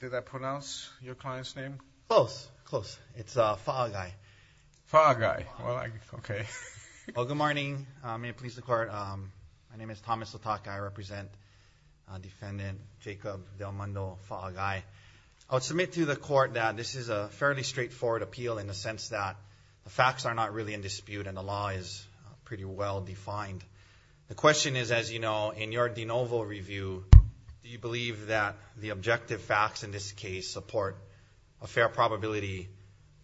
Did I pronounce your client's name? Close, close. It's Faagai. Faagai. Well, okay. Well, good morning. May it please the Court. My name is Thomas Latake. I represent Defendant Jacob Del Mundo Faagai. I would submit to the Court that this is a fairly straightforward appeal in the sense that the facts are not really in dispute and the law is pretty well defined. The question is, as you know, in your de novo review, do you believe that the objective facts in this case support a fair probability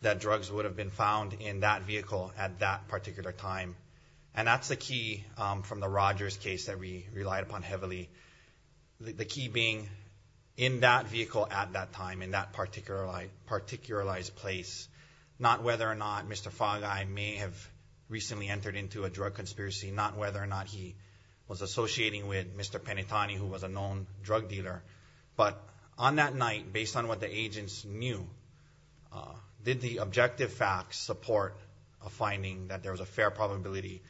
that drugs would have been found in that vehicle at that particular time? And that's the key from the Rogers case that we relied upon heavily, the key being in that vehicle at that time, in that particularized place, not whether or not Mr. Faagai may have recently entered into a drug conspiracy, not whether or not he was associating with Mr. Penitentiary, who was a known drug dealer. But on that night, based on what the agents knew, did the objective facts support a finding that there was a fair probability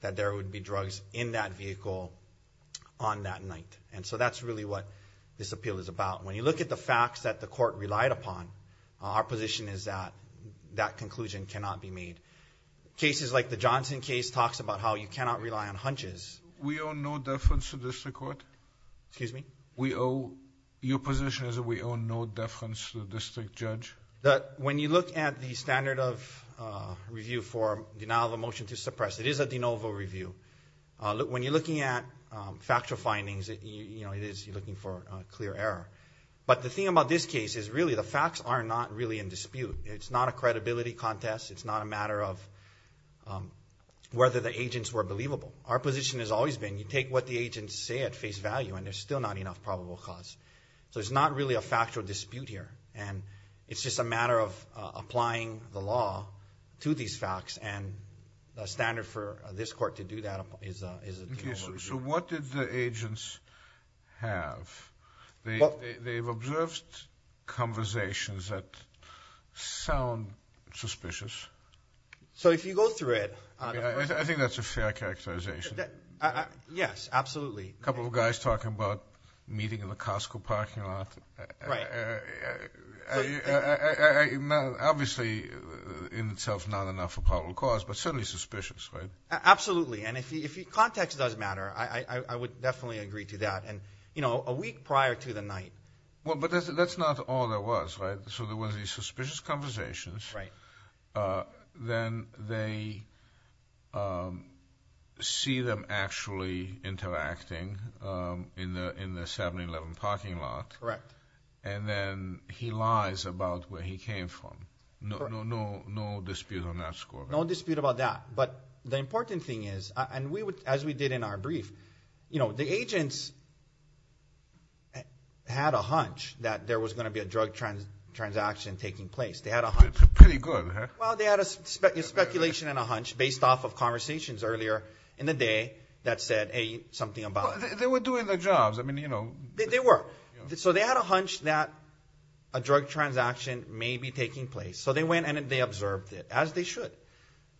that there would be drugs in that vehicle on that night? And so that's really what this appeal is about. When you look at the facts that the Court relied upon, our position is that that conclusion cannot be made. Cases like the Johnson case talks about how you cannot rely on hunches. We owe no deference to the District Court? Excuse me? Your position is that we owe no deference to the District Judge? When you look at the standard of review for denial of a motion to suppress, it is a de novo review. When you're looking at factual findings, you're looking for clear error. It's not a credibility contest. It's not a matter of whether the agents were believable. Our position has always been you take what the agents say at face value and there's still not enough probable cause. So it's not really a factual dispute here. It's just a matter of applying the law to these facts, and the standard for this Court to do that is a de novo review. So what did the agents have? They've observed conversations that sound suspicious. So if you go through it. I think that's a fair characterization. Yes, absolutely. A couple of guys talking about meeting in the Costco parking lot. Right. Obviously in itself not enough probable cause, but certainly suspicious, right? Absolutely. And if context does matter, I would definitely agree to that. A week prior to the night. But that's not all there was, right? So there was these suspicious conversations. Right. Then they see them actually interacting in the 7-Eleven parking lot. Correct. And then he lies about where he came from. No dispute on that score. No dispute about that. But the important thing is, and as we did in our brief, the agents had a hunch that there was going to be a drug transaction taking place. Pretty good, huh? Well, they had a speculation and a hunch based off of conversations earlier in the day that said something about it. They were doing their jobs. They were. So they had a hunch that a drug transaction may be taking place. So they went and they observed it, as they should.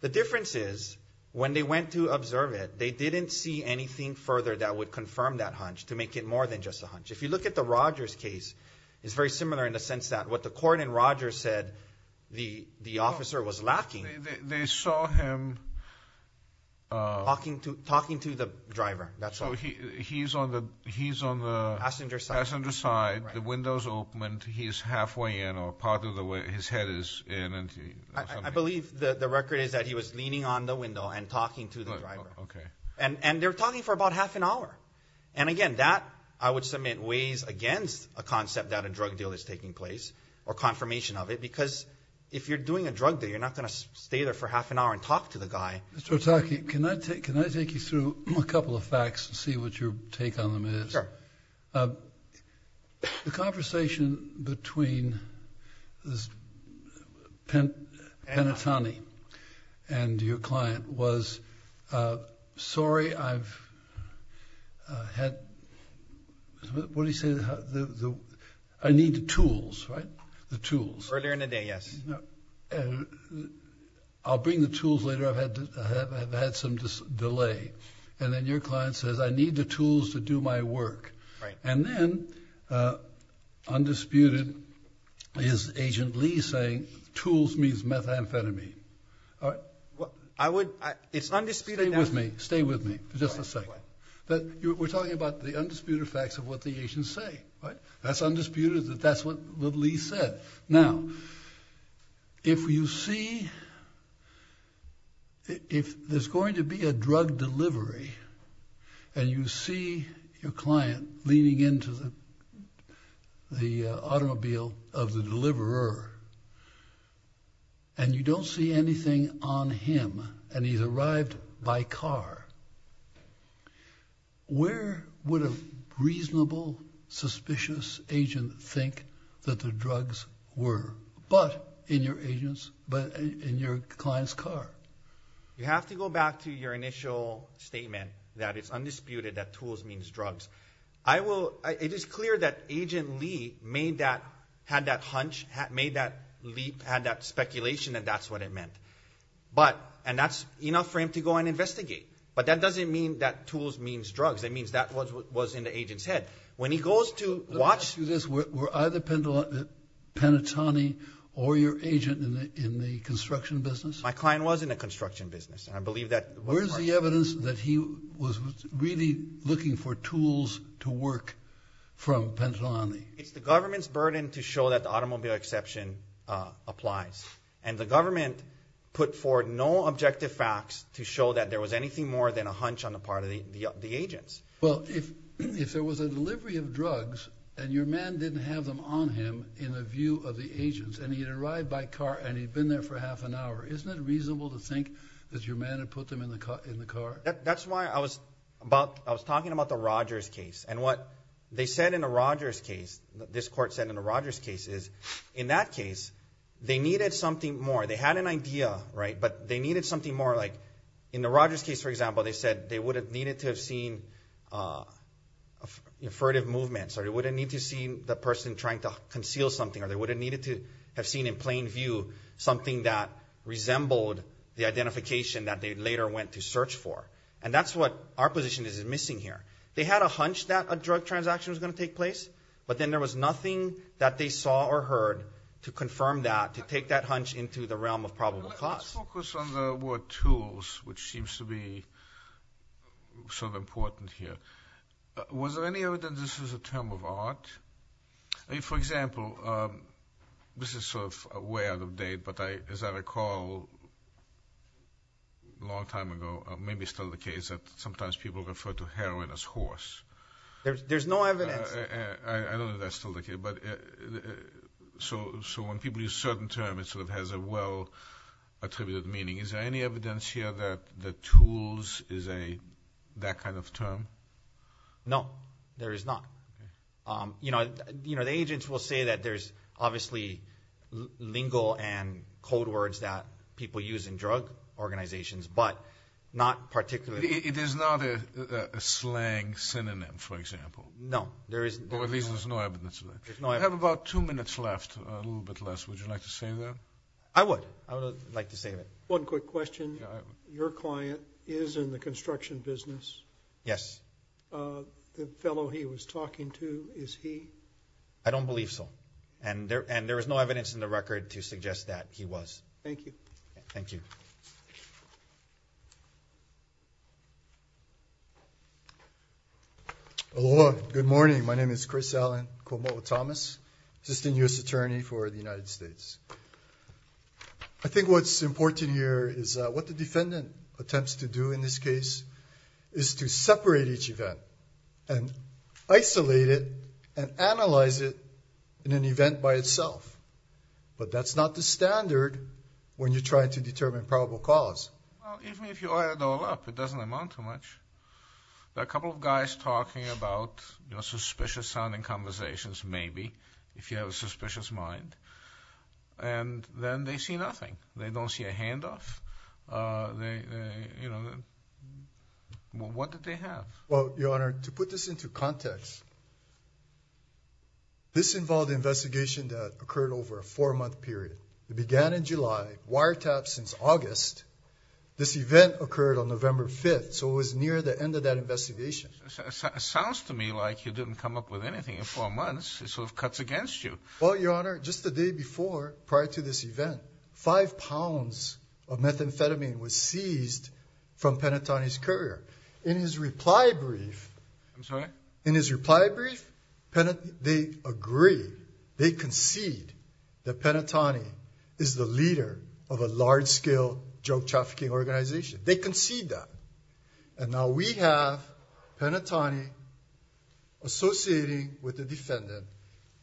The difference is, when they went to observe it, they didn't see anything further that would confirm that hunch to make it more than just a hunch. If you look at the Rogers case, it's very similar in the sense that what the court in Rogers said the officer was lacking. They saw him. Talking to the driver, that's all. So he's on the passenger side, the windows open, and he's halfway in or part of the way his head is in. I believe the record is that he was leaning on the window and talking to the driver. Okay. And they were talking for about half an hour. And, again, that, I would submit, weighs against a concept that a drug deal is taking place or confirmation of it because if you're doing a drug deal, you're not going to stay there for half an hour and talk to the guy. Mr. Otake, can I take you through a couple of facts to see what your take on them is? Sure. The conversation between Penitentiary and your client was, sorry, I've had, what do you say, I need the tools, right, the tools. Earlier in the day, yes. I'll bring the tools later. I've had some delay. And then your client says, I need the tools to do my work. Right. And then, undisputed, is Agent Lee saying tools means methamphetamine. I would, it's undisputed. Stay with me, stay with me, just a second. We're talking about the undisputed facts of what the agents say, right? That's undisputed that that's what Lee said. Now, if you see, if there's going to be a drug delivery, and you see your client leaning into the automobile of the deliverer, and you don't see anything on him, and he's arrived by car, where would a reasonable, suspicious agent think that the drugs were? But in your agent's, in your client's car. You have to go back to your initial statement that it's undisputed that tools means drugs. I will, it is clear that Agent Lee made that, had that hunch, made that leap, had that speculation that that's what it meant. But, and that's enough for him to go and investigate. But that doesn't mean that tools means drugs. That means that was in the agent's head. When he goes to watch. Let me ask you this. Were either Penitentiary or your agent in the construction business? My client was in the construction business, and I believe that. Where is the evidence that he was really looking for tools to work from Penitentiary? It's the government's burden to show that the automobile exception applies. And the government put forward no objective facts to show that there was anything more than a hunch on the part of the agents. Well, if there was a delivery of drugs, and your man didn't have them on him in the view of the agents, and he had arrived by car, and he'd been there for half an hour, isn't it reasonable to think that your man had put them in the car? That's why I was talking about the Rogers case. And what they said in the Rogers case, this court said in the Rogers case, is in that case they needed something more. They had an idea, but they needed something more. In the Rogers case, for example, they said they would have needed to have seen affirmative movements, or they would have needed to have seen the person trying to conceal something, or they would have needed to have seen in plain view something that resembled the identification that they later went to search for. And that's what our position is missing here. They had a hunch that a drug transaction was going to take place, but then there was nothing that they saw or heard to confirm that, to take that hunch into the realm of probable cause. Let's focus on the word tools, which seems to be sort of important here. Was there any evidence this was a term of art? For example, this is sort of way out of date, but as I recall a long time ago, maybe still the case that sometimes people refer to heroin as horse. There's no evidence. I don't know if that's still the case. So when people use a certain term, it sort of has a well-attributed meaning. Is there any evidence here that tools is that kind of term? No, there is not. The agents will say that there's obviously lingo and code words that people use in drug organizations, but not particularly. It is not a slang synonym, for example? No. Or at least there's no evidence of it. We have about two minutes left, a little bit less. Would you like to say that? I would. I would like to say that. One quick question. Your client is in the construction business? Yes. The fellow he was talking to, is he? I don't believe so. And there is no evidence in the record to suggest that he was. Thank you. Thank you. Aloha. Good morning. My name is Chris Allen Komowo-Thomas, Assistant U.S. Attorney for the United States. I think what's important here is what the defendant attempts to do in this case is to separate each event and isolate it and analyze it in an event by itself. But that's not the standard when you're trying to determine probable cause. Even if you add it all up, it doesn't amount to much. There are a couple of guys talking about suspicious sounding conversations, maybe, if you have a suspicious mind, and then they see nothing. They don't see a handoff. What did they have? Well, Your Honor, to put this into context, this involved an investigation that occurred over a four-month period. It began in July, wiretapped since August. This event occurred on November 5th, so it was near the end of that investigation. It sounds to me like you didn't come up with anything in four months. It sort of cuts against you. Well, Your Honor, just the day before, prior to this event, five pounds of methamphetamine was seized from Penatoni's courier. In his reply brief, they agree, they concede that Penatoni is the leader of a large-scale drug trafficking organization. They concede that. And now we have Penatoni associating with the defendant,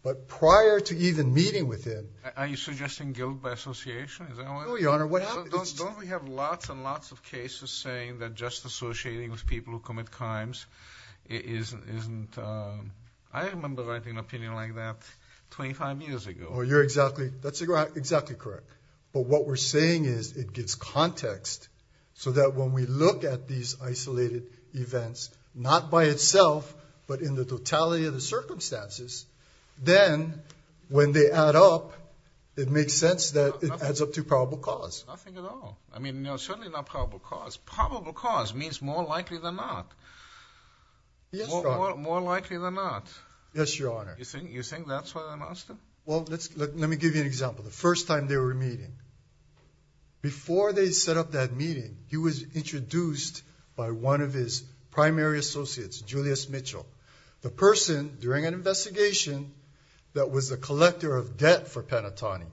but prior to even meeting with him. Are you suggesting guilt by association? No, Your Honor. Don't we have lots and lots of cases saying that just associating with people who commit crimes isn't, I remember writing an opinion like that 25 years ago. Well, you're exactly, that's exactly correct. But what we're saying is it gives context so that when we look at these isolated events, not by itself, but in the totality of the circumstances, then when they add up, it makes sense that it adds up to probable cause. Nothing at all. I mean, certainly not probable cause. Probable cause means more likely than not. Yes, Your Honor. More likely than not. Yes, Your Honor. You think that's what I'm asking? Well, let me give you an example. The first time they were meeting, before they set up that meeting, he was introduced by one of his primary associates, Julius Mitchell, the person during an investigation that was the collector of debt for Penatoni.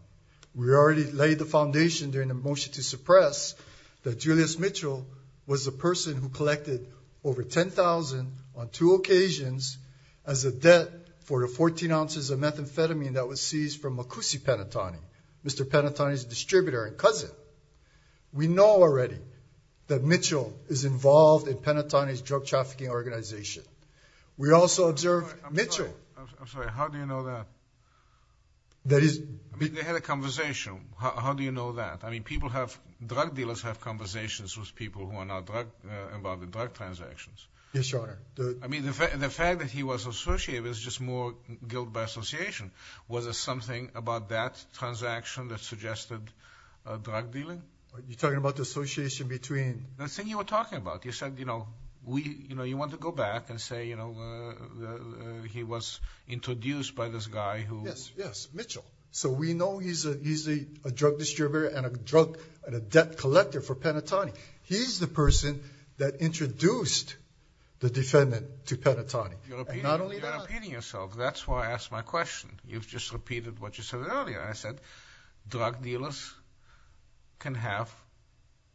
We already laid the foundation during the motion to suppress that Julius Mitchell was the person who collected over $10,000 on two occasions as a debt for the 14 ounces of methamphetamine that was seized from Makusi Penatoni, Mr. Penatoni's distributor and cousin. We know already that Mitchell is involved in Penatoni's drug trafficking organization. We also observed Mitchell. I'm sorry. How do you know that? I mean, they had a conversation. How do you know that? I mean, drug dealers have conversations with people who are not involved in drug transactions. Yes, Your Honor. I mean, the fact that he was associated is just more guilt by association. Was there something about that transaction that suggested drug dealing? You're talking about the association between? The thing you were talking about. You said, you know, you want to go back and say, you know, he was introduced by this guy who? Yes, yes, Mitchell. So we know he's a drug distributor and a debt collector for Penatoni. He's the person that introduced the defendant to Penatoni. You're repeating yourself. That's why I asked my question. You've just repeated what you said earlier. I said drug dealers can have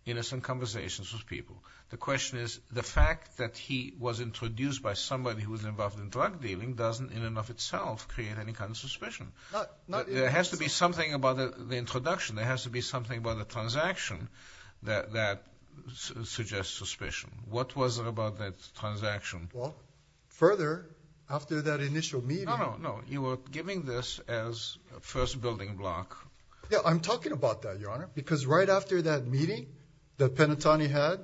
innocent conversations with people. The question is the fact that he was introduced by somebody who was involved in drug dealing doesn't in and of itself create any kind of suspicion. There has to be something about the introduction. There has to be something about the transaction that suggests suspicion. What was it about that transaction? Well, further, after that initial meeting. No, no, no. You were giving this as a first building block. Yeah, I'm talking about that, Your Honor. Because right after that meeting that Penatoni had.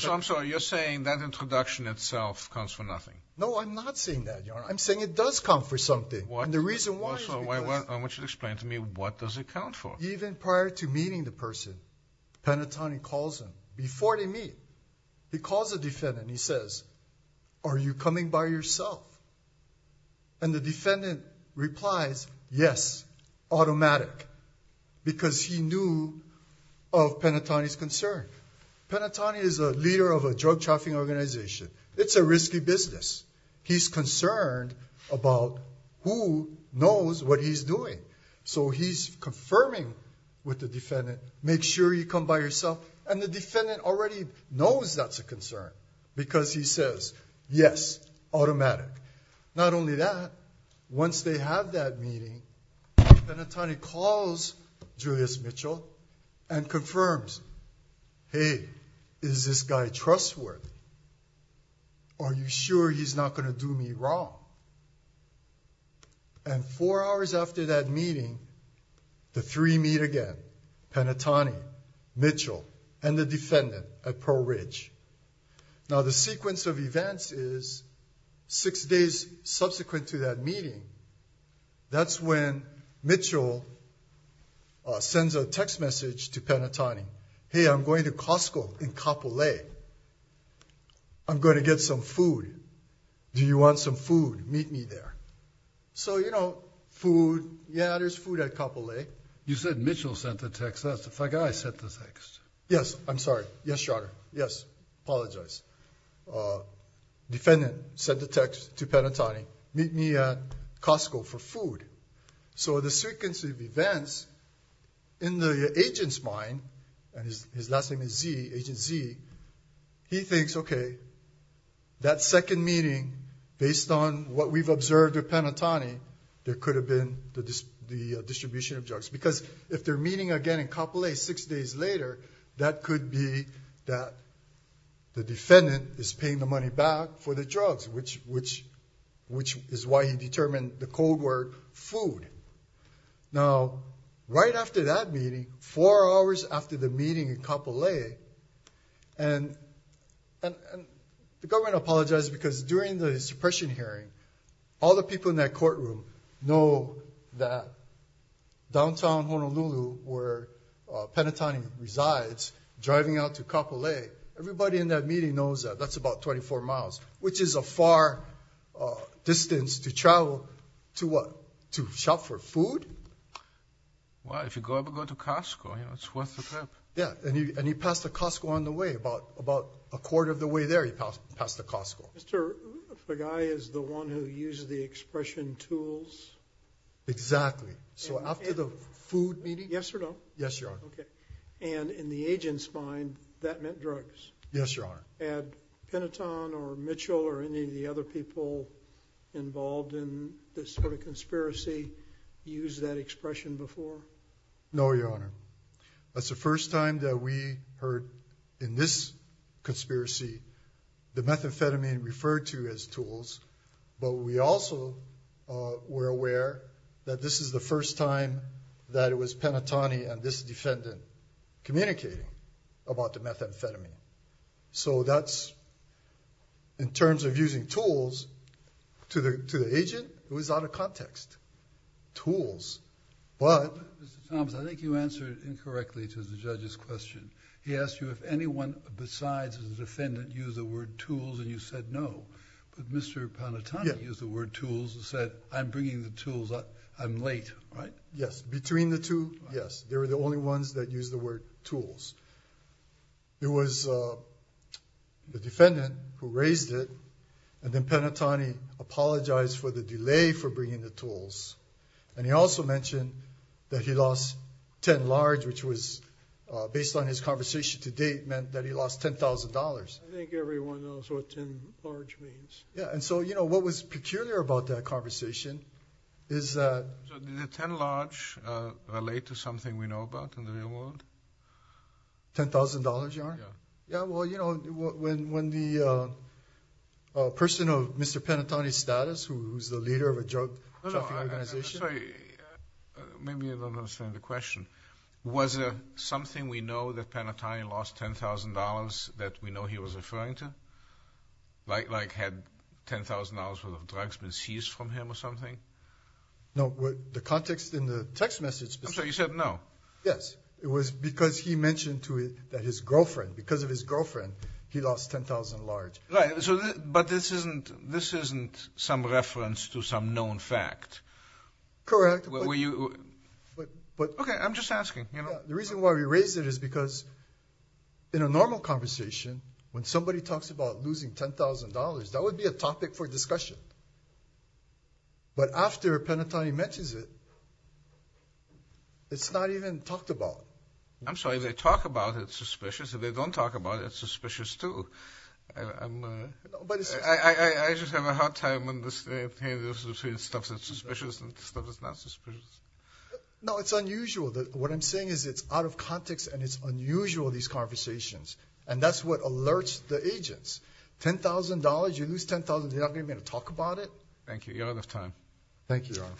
So I'm sorry, you're saying that introduction itself comes for nothing. No, I'm not saying that, Your Honor. I'm saying it does come for something. And the reason why is because. Mitchell, explain to me what does it count for? Even prior to meeting the person, Penatoni calls him. Before they meet, he calls the defendant and he says, are you coming by yourself? And the defendant replies, yes, automatic. Because he knew of Penatoni's concern. Penatoni is a leader of a drug trafficking organization. It's a risky business. He's concerned about who knows what he's doing. So he's confirming with the defendant, make sure you come by yourself. And the defendant already knows that's a concern. Because he says, yes, automatic. Not only that, once they have that meeting, Penatoni calls Julius Mitchell. And confirms, hey, is this guy trustworthy? Are you sure he's not going to do me wrong? And four hours after that meeting, the three meet again. Mitchell, Penatoni, Mitchell, and the defendant at Pearl Ridge. Now, the sequence of events is six days subsequent to that meeting. That's when Mitchell sends a text message to Penatoni. Hey, I'm going to Costco in Kapolei. I'm going to get some food. Do you want some food? Meet me there. So, you know, food, yeah, there's food at Kapolei. You said Mitchell sent the text. That's the guy sent the text. Yes, I'm sorry. Yes, Your Honor. Yes. Apologize. Defendant sent the text to Penatoni, meet me at Costco for food. So the sequence of events, in the agent's mind, and his last name is Z, Agent Z, he thinks, okay, that second meeting, based on what we've observed with Penatoni, there could have been the distribution of drugs. Because if they're meeting again in Kapolei six days later, that could be that the defendant is paying the money back for the drugs, which is why he determined the code word food. Now, right after that meeting, four hours after the meeting in Kapolei, and the government apologized because during the suppression hearing, all the people in that courtroom know that downtown Honolulu, where Penatoni resides, driving out to Kapolei, everybody in that meeting knows that that's about 24 miles, which is a far distance to travel to what? To shop for food? Well, if you go up and go to Costco, you know, it's worth the trip. Yeah, and he passed a Costco on the way. About a quarter of the way there, he passed a Costco. The guy is the one who uses the expression tools? Exactly. So after the food meeting? Yes or no? Yes, Your Honor. And in the agent's mind, that meant drugs? Yes, Your Honor. Had Penatoni or Mitchell or any of the other people involved in this sort of conspiracy used that expression before? No, Your Honor. That's the first time that we heard in this conspiracy the methamphetamine referred to as tools, but we also were aware that this is the first time that it was Penatoni and this defendant communicating about the methamphetamine. So that's, in terms of using tools, to the agent, it was out of context. Tools, but... Mr. Thomas, I think you answered incorrectly to the judge's question. He asked you if anyone besides the defendant used the word tools, and you said no. But Mr. Penatoni used the word tools and said, I'm bringing the tools, I'm late, right? Yes, between the two, yes. They were the only ones that used the word tools. It was the defendant who raised it, And he also mentioned that he lost 10 large, which was based on his conversation to date meant that he lost $10,000. I think everyone knows what 10 large means. Yeah, and so, you know, what was peculiar about that conversation is that... Did the 10 large relate to something we know about in the real world? $10,000, Your Honor? Yeah. Yeah, well, you know, when the person of Mr. Penatoni's status, who's the leader of a drug trafficking organization... No, no, I'm sorry. Maybe you don't understand the question. Was it something we know that Penatoni lost $10,000 that we know he was referring to? Like had $10,000 worth of drugs been seized from him or something? No, the context in the text message... I'm sorry, you said no. Yes, it was because he mentioned to it that his girlfriend, because of his girlfriend, he lost 10,000 large. Right, but this isn't some reference to some known fact. Correct, but... Okay, I'm just asking. The reason why we raise it is because in a normal conversation, when somebody talks about losing $10,000, that would be a topic for discussion. But after Penatoni mentions it, it's not even talked about. I'm sorry. If they talk about it, it's suspicious. If they don't talk about it, it's suspicious, too. I just have a hard time understanding the difference between stuff that's suspicious and stuff that's not suspicious. No, it's unusual. What I'm saying is it's out of context and it's unusual, these conversations. And that's what alerts the agents. $10,000, you lose $10,000, you're not going to be able to talk about it? Thank you. You're out of time. Thank you, Your Honor.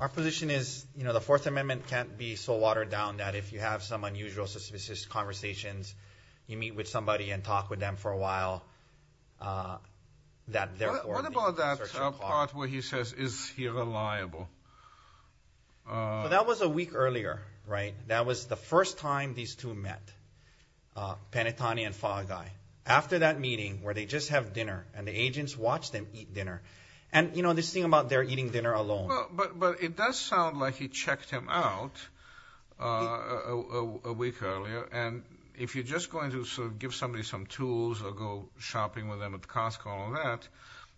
Our position is the Fourth Amendment can't be so watered down that if you have some unusual, suspicious conversations, you meet with somebody and talk with them for a while. What about that part where he says, is he reliable? That was a week earlier, right? That was the first time these two met, Penatoni and Fogeye. After that meeting where they just have dinner and the agents watch them eat dinner. And, you know, this thing about they're eating dinner alone. But it does sound like he checked him out a week earlier. And if you're just going to sort of give somebody some tools or go shopping with them at Costco and all that,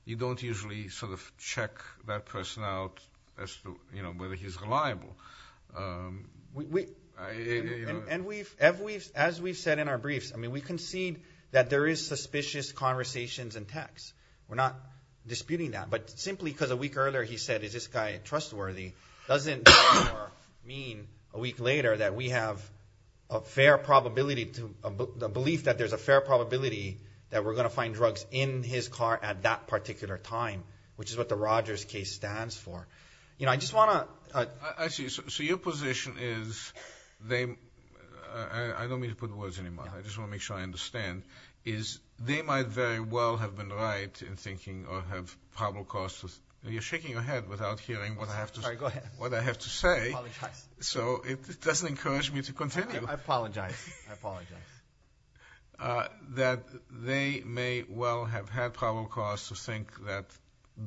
you don't usually sort of check that person out as to, you know, whether he's reliable. And as we've said in our briefs, I mean, we concede that there is suspicious conversations and texts. We're not disputing that. But simply because a week earlier he said, is this guy trustworthy, doesn't mean a week later that we have a fair probability, a belief that there's a fair probability that we're going to find drugs in his car at that particular time, which is what the Rogers case stands for. You know, I just want to. I see. So your position is, I don't mean to put words in your mouth, I just want to make sure I understand, is they might very well have been right in thinking or have probable cause. You're shaking your head without hearing what I have to say. I apologize. That they may well have had probable cause to think that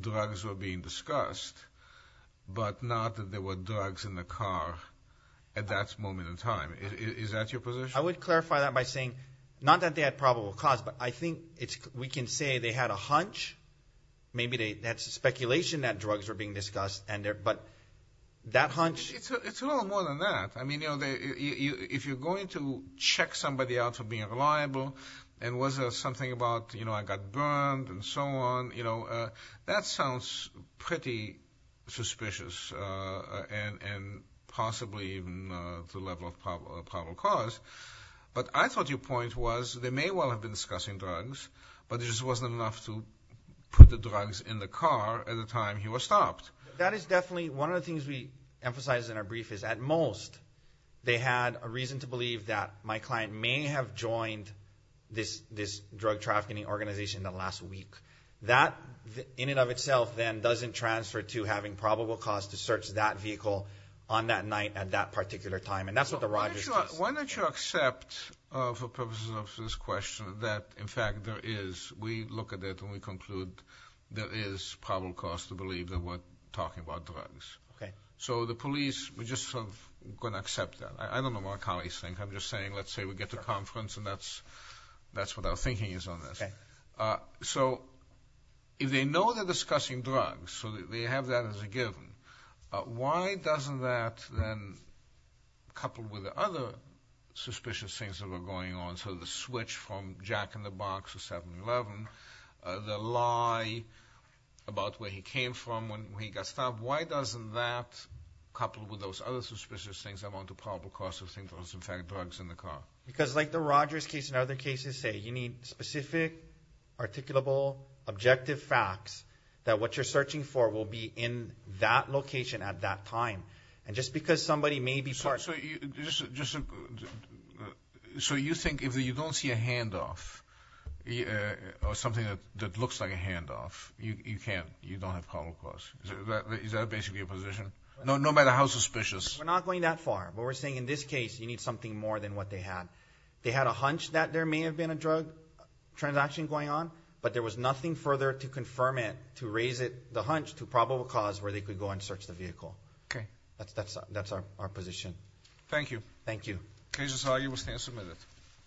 drugs were being discussed, but not that there were drugs in the car at that moment in time. Is that your position? I would clarify that by saying not that they had probable cause, but I think we can say they had a hunch. Maybe that's a speculation that drugs were being discussed, but that hunch. It's a little more than that. I mean, you know, if you're going to check somebody out for being reliable and was there something about, you know, I got burned and so on, you know, that sounds pretty suspicious and possibly even to the level of probable cause. But I thought your point was they may well have been discussing drugs, but it just wasn't enough to put the drugs in the car at the time he was stopped. That is definitely one of the things we emphasize in our brief is at most they had a reason to believe that my client may have joined this drug trafficking organization the last week. That in and of itself then doesn't transfer to having probable cause to search that vehicle on that night at that particular time, and that's what the Rogers test. Why don't you accept for purposes of this question that, in fact, there is. We look at it and we conclude there is probable cause to believe that we're talking about drugs. So the police, we're just sort of going to accept that. I don't know what our colleagues think. I'm just saying let's say we get to conference and that's what our thinking is on this. So if they know they're discussing drugs, so they have that as a given, why doesn't that then, coupled with the other suspicious things that were going on, so the switch from jack-in-the-box to 7-Eleven, the lie about where he came from when he got stopped, why doesn't that, coupled with those other suspicious things, amount to probable cause to think there was, in fact, drugs in the car? Because like the Rogers case and other cases say, you need specific, articulable, objective facts that what you're searching for will be in that location at that time. And just because somebody may be part of it. So you think if you don't see a handoff or something that looks like a handoff, you don't have probable cause? Is that basically your position? No matter how suspicious. We're not going that far, but we're saying in this case you need something more than what they had. They had a hunch that there may have been a drug transaction going on, but there was nothing further to confirm it to raise the hunch to probable cause where they could go and search the vehicle. Okay. That's our position. Thank you. Thank you.